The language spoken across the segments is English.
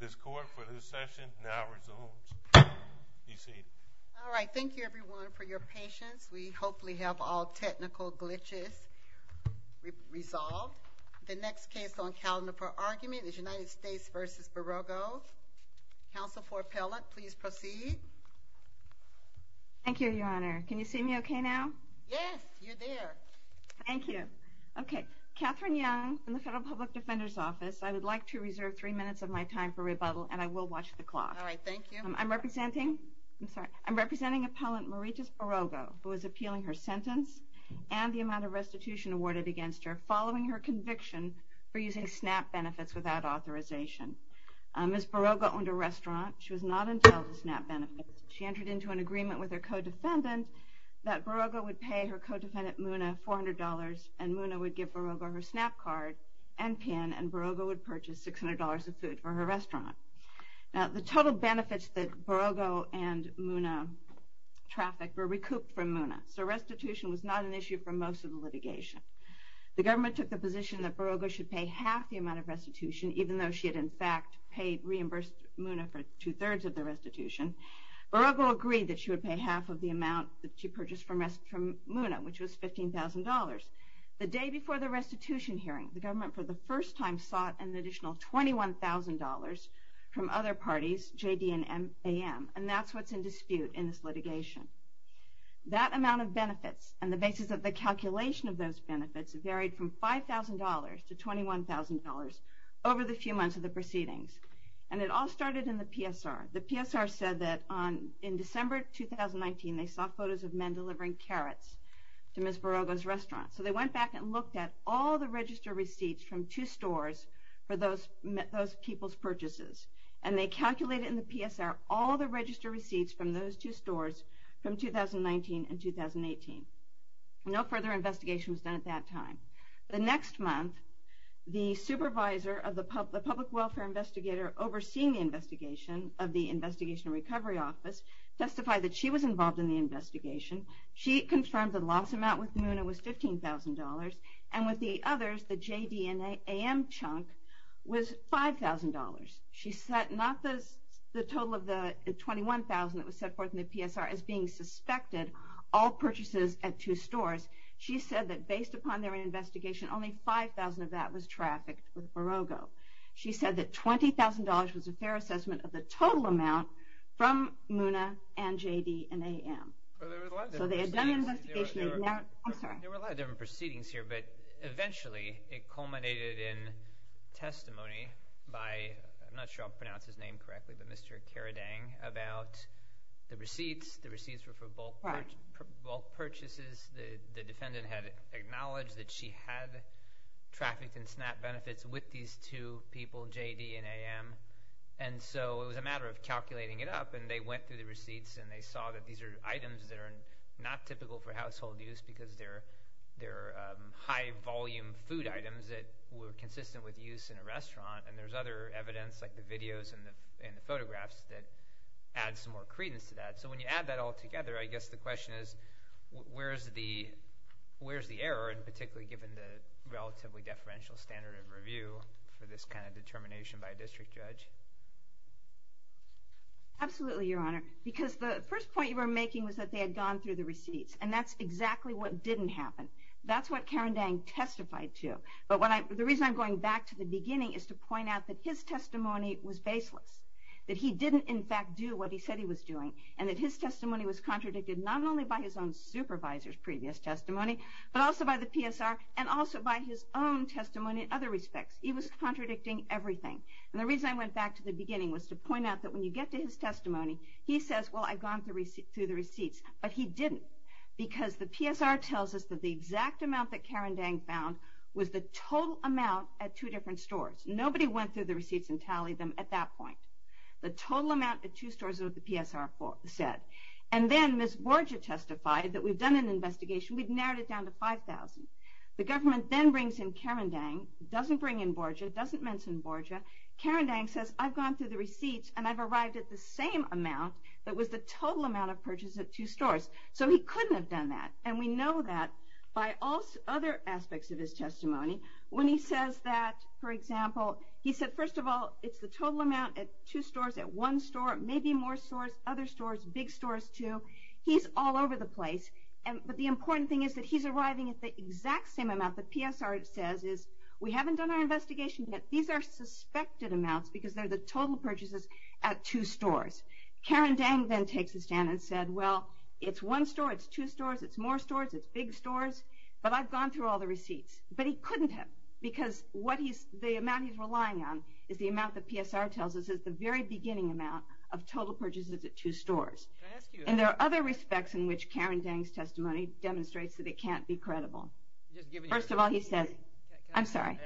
This court for this session now resolves. Be seated. Alright, thank you everyone for your patience. We hopefully have all technical glitches resolved. The next case on calendar for argument is United States v. Barrogo. Counsel for appellant, please proceed. Thank you, Your Honor. Can you see me okay now? Yes, you're there. Thank you. Okay, Catherine Young from the Federal Public Defender's Office. I would like to reserve three minutes of my time for rebuttal and I will watch the clock. Alright, thank you. I'm representing appellant Marites Barrogo who is appealing her sentence and the amount of restitution awarded against her following her conviction for using SNAP benefits without authorization. Ms. Barrogo owned a restaurant. She was not entitled to SNAP benefits. She entered into an agreement with her co-defendant that Barrogo would pay her co-defendant, Muna, $400 and Muna would give Barrogo her SNAP card and PIN and Barrogo would purchase $600 of food for her restaurant. Now the total benefits that Barrogo and Muna trafficked were recouped from Muna. So restitution was not an issue for most of the litigation. The government took the position that Barrogo should pay half the amount of restitution even though she had in fact paid, reimbursed Muna for two-thirds of the restitution. Barrogo agreed that she would pay half of the amount that she purchased from Muna, which was $15,000. The day before the restitution hearing, the government for the first time sought an additional $21,000 from other parties, JD and AM, and that's what's in dispute in this litigation. That amount of benefits and the basis of the calculation of those benefits varied from $5,000 to $21,000 over the few months of the proceedings. And it all started in the PSR. The PSR said that in December 2019 they saw photos of men delivering carrots to Ms. Barrogo's restaurant. So they went back and looked at all the register receipts from two stores for those people's purchases and they calculated in the PSR all the register receipts from those two stores from 2019 and 2018. No further investigation was done at that time. The next month, the supervisor of the public welfare investigator overseeing the investigation of the Investigation and Recovery Office testified that she was involved in the investigation. She confirmed the loss amount with Muna was $15,000, and with the others, the JD and AM chunk was $5,000. She said not the total of the $21,000 that was set forth in the PSR as being suspected, all purchases at two stores. She said that based upon their investigation, only $5,000 of that was trafficked with Barrogo. She said that $20,000 was a fair assessment of the total amount from Muna and JD and AM. So they had done an investigation. There were a lot of different proceedings here, but eventually it culminated in testimony by—I'm not sure I'll pronounce his name correctly— but Mr. Caradang about the receipts. The receipts were for bulk purchases. The defendant had acknowledged that she had trafficked and snapped benefits with these two people, JD and AM. And so it was a matter of calculating it up, and they went through the receipts, and they saw that these are items that are not typical for household use because they're high-volume food items that were consistent with use in a restaurant. And there's other evidence like the videos and the photographs that add some more credence to that. So when you add that all together, I guess the question is where's the error, and particularly given the relatively deferential standard of review for this kind of determination by a district judge? Absolutely, Your Honor, because the first point you were making was that they had gone through the receipts, and that's exactly what didn't happen. That's what Caradang testified to. But the reason I'm going back to the beginning is to point out that his testimony was baseless, that he didn't in fact do what he said he was doing, and that his testimony was contradicted not only by his own supervisor's previous testimony, but also by the PSR and also by his own testimony in other respects. He was contradicting everything. And the reason I went back to the beginning was to point out that when you get to his testimony, he says, well, I've gone through the receipts, but he didn't, because the PSR tells us that the exact amount that Caradang found was the total amount at two different stores. Nobody went through the receipts and tallied them at that point. The total amount at two stores is what the PSR said. And then Ms. Borja testified that we've done an investigation. We've narrowed it down to 5,000. The government then brings in Caradang, doesn't bring in Borja, doesn't mention Borja. Caradang says, I've gone through the receipts, and I've arrived at the same amount that was the total amount of purchase at two stores. So he couldn't have done that. And we know that by other aspects of his testimony. When he says that, for example, he said, first of all, it's the total amount at two stores, at one store, maybe more stores, other stores, big stores, too. He's all over the place. But the important thing is that he's arriving at the exact same amount that PSR says is, we haven't done our investigation yet. These are suspected amounts because they're the total purchases at two stores. Caradang then takes a stand and said, well, it's one store, it's two stores, it's more stores, it's big stores, but I've gone through all the receipts. But he couldn't have because the amount he's relying on is the amount that PSR tells us is the very beginning amount of total purchases at two stores. And there are other respects in which Caradang's testimony demonstrates that it can't be credible. First of all, he says, I'm sorry.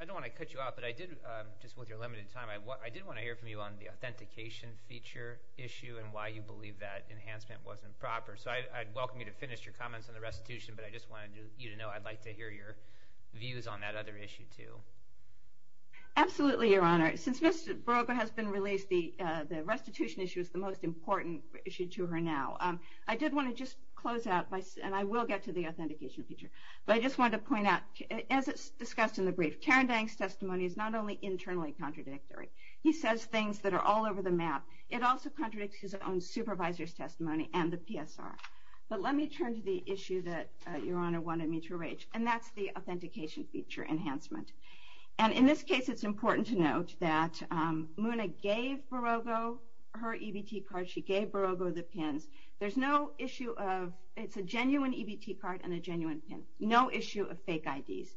I don't want to cut you off, but I did, just with your limited time, I did want to hear from you on the authentication feature issue and why you believe that enhancement wasn't proper. So I'd welcome you to finish your comments on the restitution, but I just wanted you to know I'd like to hear your views on that other issue, too. Absolutely, Your Honor. Since Ms. Barroga has been released, the restitution issue is the most important issue to her now. I did want to just close out, and I will get to the authentication feature, but I just wanted to point out, as it's discussed in the brief, Caradang's testimony is not only internally contradictory. He says things that are all over the map. It also contradicts his own supervisor's testimony and the PSR. But let me turn to the issue that Your Honor wanted me to reach, and that's the authentication feature enhancement. And in this case, it's important to note that Muna gave Barroga her EBT card. She gave Barroga the pins. There's no issue of – it's a genuine EBT card and a genuine pin. No issue of fake IDs.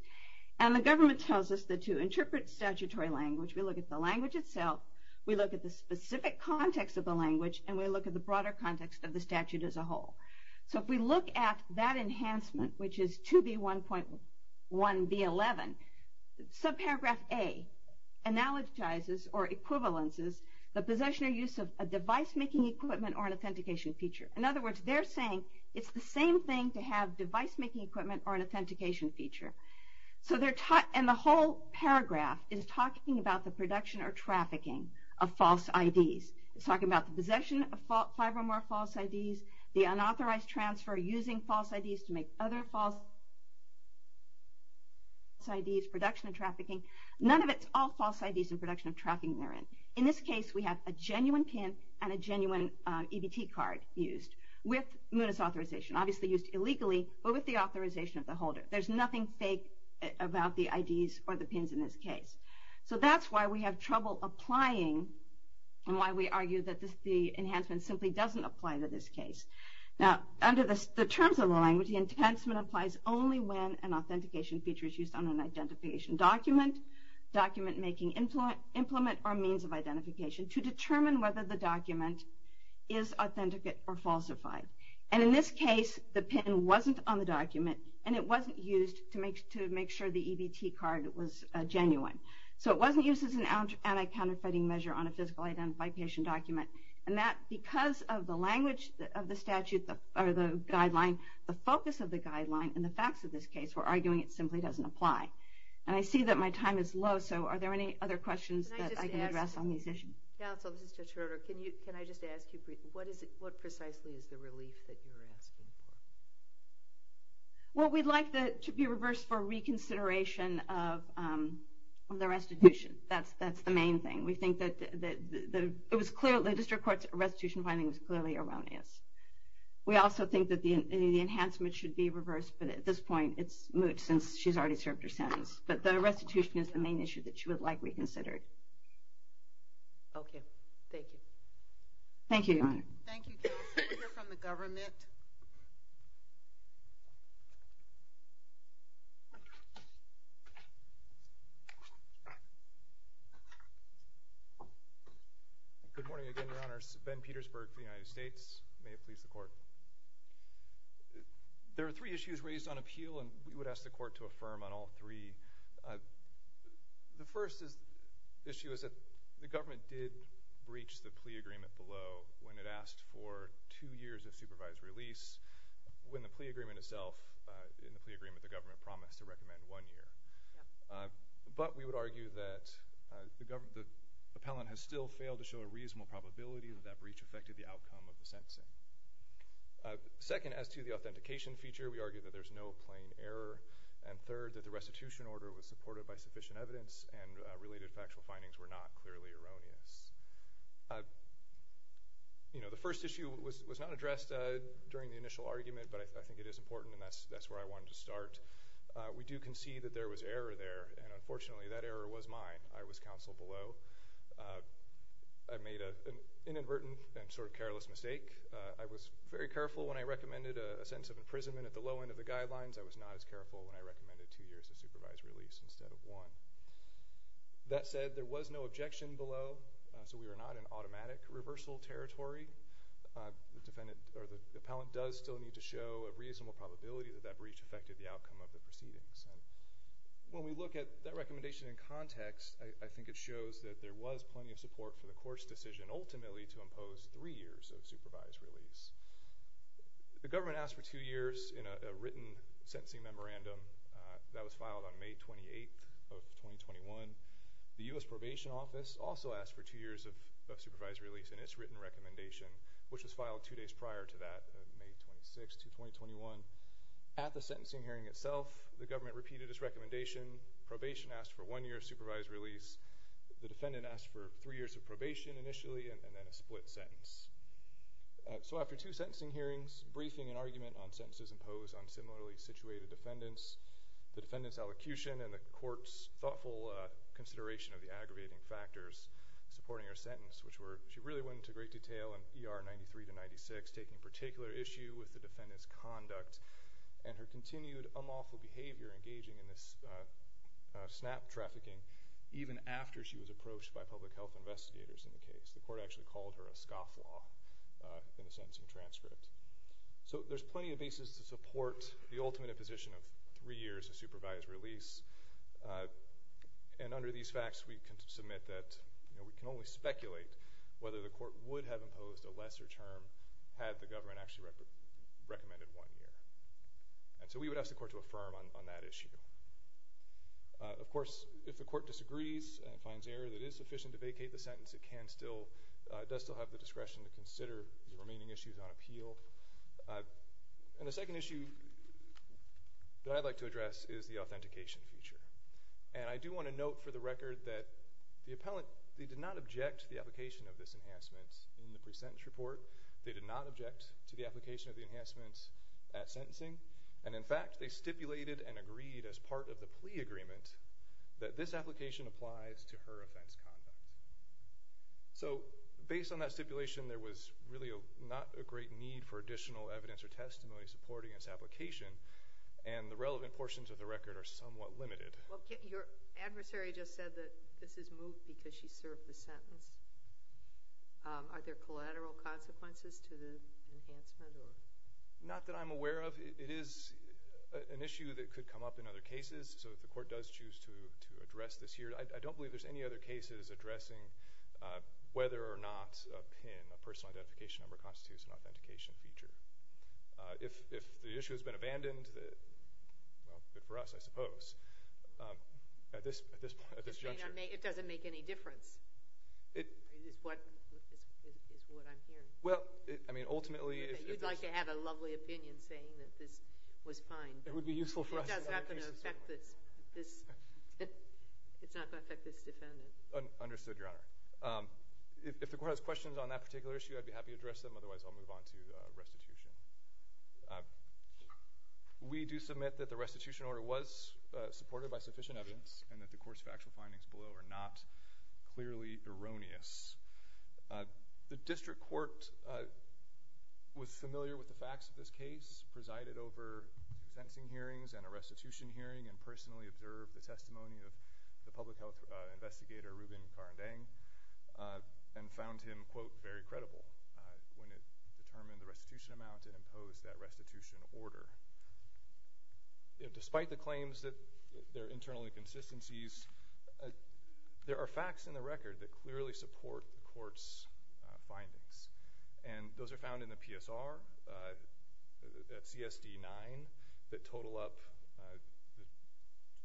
And the government tells us that to interpret statutory language, we look at the language itself, we look at the specific context of the language, and we look at the broader context of the statute as a whole. So if we look at that enhancement, which is 2B1.1B11, subparagraph A analogizes or equivalences the possession or use of a device-making equipment or an authentication feature. In other words, they're saying it's the same thing to have device-making equipment or an authentication feature. And the whole paragraph is talking about the production or trafficking of false IDs. It's talking about the possession of five or more false IDs, the unauthorized transfer using false IDs to make other false IDs, production of trafficking. None of it's all false IDs in production of trafficking they're in. In this case, we have a genuine pin and a genuine EBT card used with Muna's authorization. Obviously used illegally, but with the authorization of the holder. There's nothing fake about the IDs or the pins in this case. So that's why we have trouble applying and why we argue that the enhancement simply doesn't apply to this case. Now, under the terms of the language, the enhancement applies only when an authentication feature is used on an identification document, document-making implement, or means of identification, to determine whether the document is authentic or falsified. And in this case, the pin wasn't on the document and it wasn't used to make sure the EBT card was genuine. So it wasn't used as an anti-counterfeiting measure on a physical identification document. And that, because of the language of the statute or the guideline, the focus of the guideline and the facts of this case were arguing it simply doesn't apply. And I see that my time is low, so are there any other questions that I can address on these issues? Counsel, this is Judge Herter. Can I just ask you briefly, what precisely is the relief that you're asking for? Well, we'd like it to be reversed for reconsideration of the restitution. That's the main thing. We think that the district court's restitution finding was clearly erroneous. We also think that the enhancement should be reversed, but at this point it's moot since she's already served her sentence. But the restitution is the main issue that she would like reconsidered. Okay. Thank you. Thank you, Your Honor. Thank you, Counsel. We'll hear from the government. Good morning again, Your Honor. Ben Petersburg for the United States. May it please the Court. There are three issues raised on appeal, and we would ask the Court to affirm on all three. The first issue is that the government did breach the plea agreement below when it asked for two years of supervised release, when the plea agreement itself, in the plea agreement, the government promised to recommend one year. But we would argue that the appellant has still failed to show a reasonable probability that that breach affected the outcome of the sentencing. Second, as to the authentication feature, we argue that there's no plain error. And third, that the restitution order was supported by sufficient evidence and related factual findings were not clearly erroneous. You know, the first issue was not addressed during the initial argument, but I think it is important and that's where I wanted to start. We do concede that there was error there, and unfortunately that error was mine. I was counseled below. I made an inadvertent and sort of careless mistake. I was very careful when I recommended a sentence of imprisonment at the low end of the guidelines. I was not as careful when I recommended two years of supervised release instead of one. That said, there was no objection below, so we were not in automatic reversal territory. The defendant or the appellant does still need to show a reasonable probability that that breach affected the outcome of the proceedings. When we look at that recommendation in context, I think it shows that there was plenty of support for the court's decision, ultimately, to impose three years of supervised release. The government asked for two years in a written sentencing memorandum. That was filed on May 28th of 2021. The U.S. Probation Office also asked for two years of supervised release in its written recommendation, which was filed two days prior to that, May 26th, 2021. At the sentencing hearing itself, the government repeated its recommendation. Probation asked for one year of supervised release. The defendant asked for three years of probation initially and then a split sentence. After two sentencing hearings, briefing and argument on sentences imposed on similarly situated defendants, the defendant's elocution and the court's thoughtful consideration of the aggravating factors supporting her sentence, which were, she really went into great detail in ER 93 to 96, taking particular issue with the defendant's conduct and her continued unlawful behavior engaging in this snap trafficking, even after she was approached by public health investigators in the case. The court actually called her a scofflaw in the sentencing transcript. So there's plenty of basis to support the ultimate imposition of three years of supervised release. And under these facts, we can submit that, you know, we can only speculate whether the court would have imposed a lesser term had the government actually recommended one year. And so we would ask the court to affirm on that issue. Of course, if the court disagrees and finds error that is sufficient to vacate the sentence, it can still, does still have the discretion to consider the remaining issues on appeal. And the second issue that I'd like to address is the authentication feature. And I do want to note for the record that the appellant, they did not object to the application of this enhancement in the pre-sentence report. They did not object to the application of the enhancements at sentencing. And in fact, they stipulated and agreed as part of the plea agreement that this application applies to her offense conduct. So based on that stipulation, there was really not a great need for additional evidence or testimony supporting this application, and the relevant portions of the record are somewhat limited. Well, your adversary just said that this is moved because she served the sentence. Are there collateral consequences to the enhancement? Not that I'm aware of. It is an issue that could come up in other cases. So if the court does choose to address this here, I don't believe there's any other cases addressing whether or not a PIN, a personal identification number constitutes an authentication feature. If the issue has been abandoned, well, for us, I suppose, at this juncture. It doesn't make any difference is what I'm hearing. Well, I mean, ultimately if this— You'd like to have a lovely opinion saying that this was fine. It would be useful for us in other cases. It's not going to affect this defendant. Understood, Your Honor. If the court has questions on that particular issue, I'd be happy to address them. Otherwise, I'll move on to restitution. We do submit that the restitution order was supported by sufficient evidence and that the court's factual findings below are not clearly erroneous. The district court was familiar with the facts of this case, presided over sentencing hearings and a restitution hearing, and personally observed the testimony of the public health investigator, Ruben Carandang, and found him, quote, very credible when it determined the restitution amount and imposed that restitution order. Despite the claims that there are internal inconsistencies, there are facts in the record that clearly support the court's findings, and those are found in the PSR at CSD 9 that total up—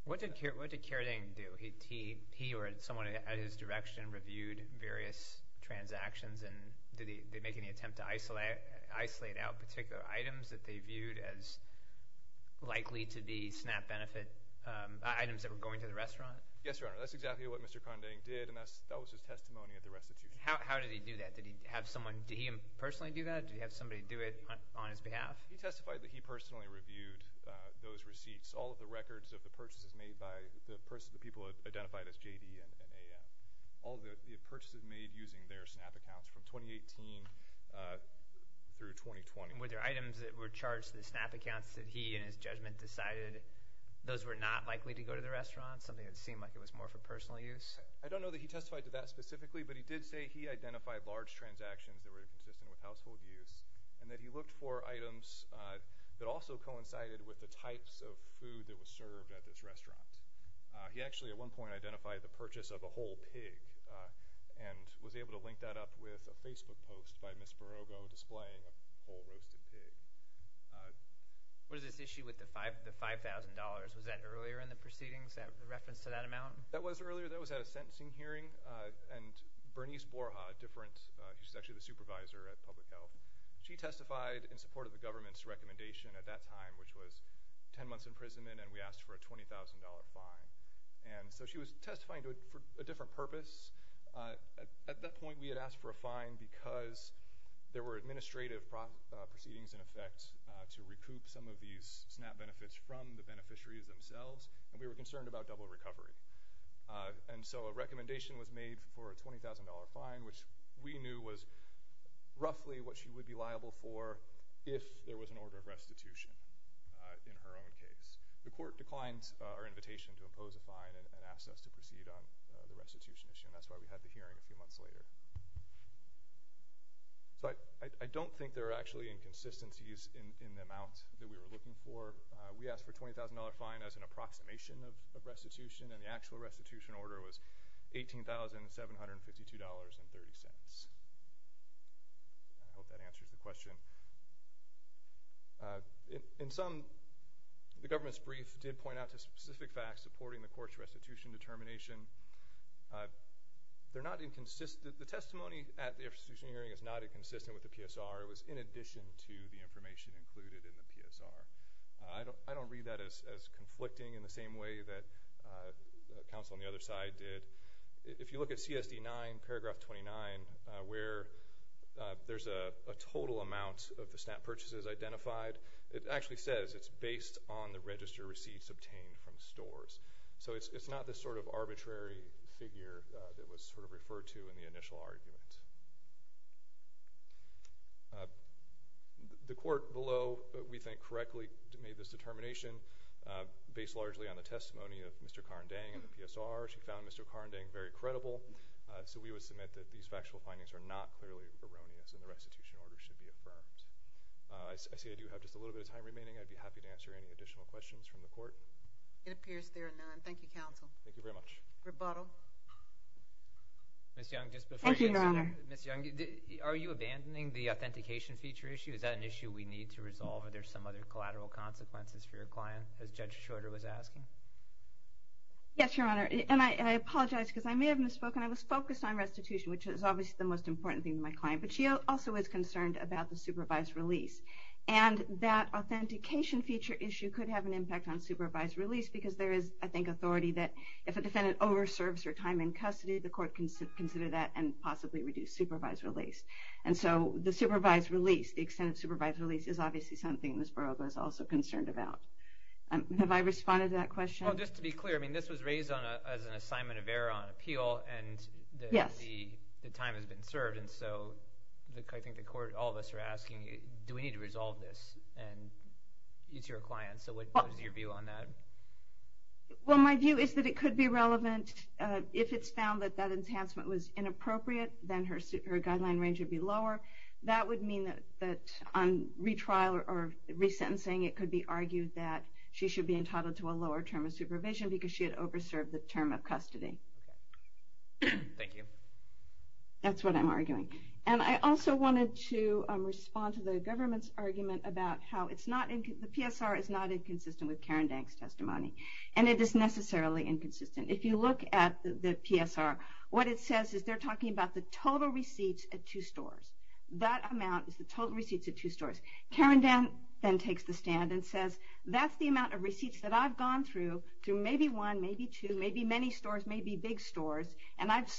What did Carandang do? He or someone at his direction reviewed various transactions, and did they make any attempt to isolate out particular items that they viewed as likely to be SNAP benefit items that were going to the restaurant? Yes, Your Honor. That's exactly what Mr. Carandang did, and that was his testimony at the restitution. How did he do that? Did he have someone—did he personally do that? Did he have somebody do it on his behalf? He testified that he personally reviewed those receipts, all of the records of the purchases made by the people identified as J.D. and A.M., all the purchases made using their SNAP accounts from 2018 through 2020. Were there items that were charged as SNAP accounts that he, in his judgment, decided those were not likely to go to the restaurant, something that seemed like it was more for personal use? I don't know that he testified to that specifically, but he did say he identified large transactions that were inconsistent with household use and that he looked for items that also coincided with the types of food that was served at this restaurant. He actually, at one point, identified the purchase of a whole pig and was able to link that up with a Facebook post by Ms. Barogo displaying a whole roasted pig. What is this issue with the $5,000? Was that earlier in the proceedings, the reference to that amount? That was earlier. That was at a sentencing hearing, and Bernice Borja, who's actually the supervisor at Public Health, she testified in support of the government's recommendation at that time, which was 10 months imprisonment, and we asked for a $20,000 fine. And so she was testifying for a different purpose. At that point, we had asked for a fine because there were administrative proceedings in effect to recoup some of these SNAP benefits from the beneficiaries themselves, and we were concerned about double recovery. And so a recommendation was made for a $20,000 fine, which we knew was roughly what she would be liable for if there was an order of restitution in her own case. The court declined our invitation to impose a fine and asked us to proceed on the restitution issue, and that's why we had the hearing a few months later. So I don't think there are actually inconsistencies in the amount that we were looking for. We asked for a $20,000 fine as an approximation of restitution, and the actual restitution order was $18,752.30. I hope that answers the question. In sum, the government's brief did point out to specific facts supporting the court's restitution determination. The testimony at the restitution hearing is not inconsistent with the PSR. It was in addition to the information included in the PSR. I don't read that as conflicting in the same way that counsel on the other side did. If you look at CSD 9, paragraph 29, where there's a total amount of the SNAP purchases identified, it actually says it's based on the register receipts obtained from stores. So it's not this sort of arbitrary figure that was sort of referred to in the initial argument. The court below, we think, correctly made this determination based largely on the testimony of Mr. Karendang in the PSR. She found Mr. Karendang very credible, so we would submit that these factual findings are not clearly erroneous and the restitution order should be affirmed. I see I do have just a little bit of time remaining. I'd be happy to answer any additional questions from the court. It appears there are none. Thank you, counsel. Thank you very much. Rebuttal. Thank you, Your Honor. Ms. Young, are you abandoning the authentication feature issue? Is that an issue we need to resolve? Are there some other collateral consequences for your client, as Judge Schroeder was asking? Yes, Your Honor, and I apologize because I may have misspoken. I was focused on restitution, which is obviously the most important thing to my client, but she also was concerned about the supervised release. And that authentication feature issue could have an impact on supervised release because there is, I think, authority that if a defendant overserves her time in custody, the court can consider that and possibly reduce supervised release. And so the supervised release, the extent of supervised release, is obviously something Ms. Barrogo is also concerned about. Have I responded to that question? Well, just to be clear, this was raised as an assignment of error on appeal and the time has been served. And so I think the court, all of us are asking, do we need to resolve this? And it's your client, so what is your view on that? Well, my view is that it could be relevant. If it's found that that enhancement was inappropriate, then her guideline range would be lower. That would mean that on retrial or resentencing, it could be argued that she should be entitled to a lower term of supervision because she had overserved the term of custody. Thank you. That's what I'm arguing. And I also wanted to respond to the government's argument about how the PSR is not inconsistent with Karen Dank's testimony, and it is necessarily inconsistent. If you look at the PSR, what it says is they're talking about the total receipts at two stores. That amount is the total receipts at two stores. Karen Dank then takes the stand and says, that's the amount of receipts that I've gone through, through maybe one, maybe two, maybe many stores, maybe big stores, and I've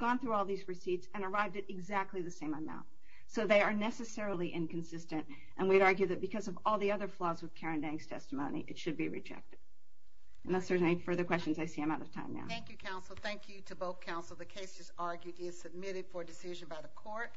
gone through all these receipts and arrived at exactly the same amount. So they are necessarily inconsistent, and we'd argue that because of all the other flaws with Karen Dank's testimony, it should be rejected. Unless there's any further questions, I see I'm out of time now. Thank you, counsel. Thank you to both counsel. The case is argued and is submitted for decision by the court.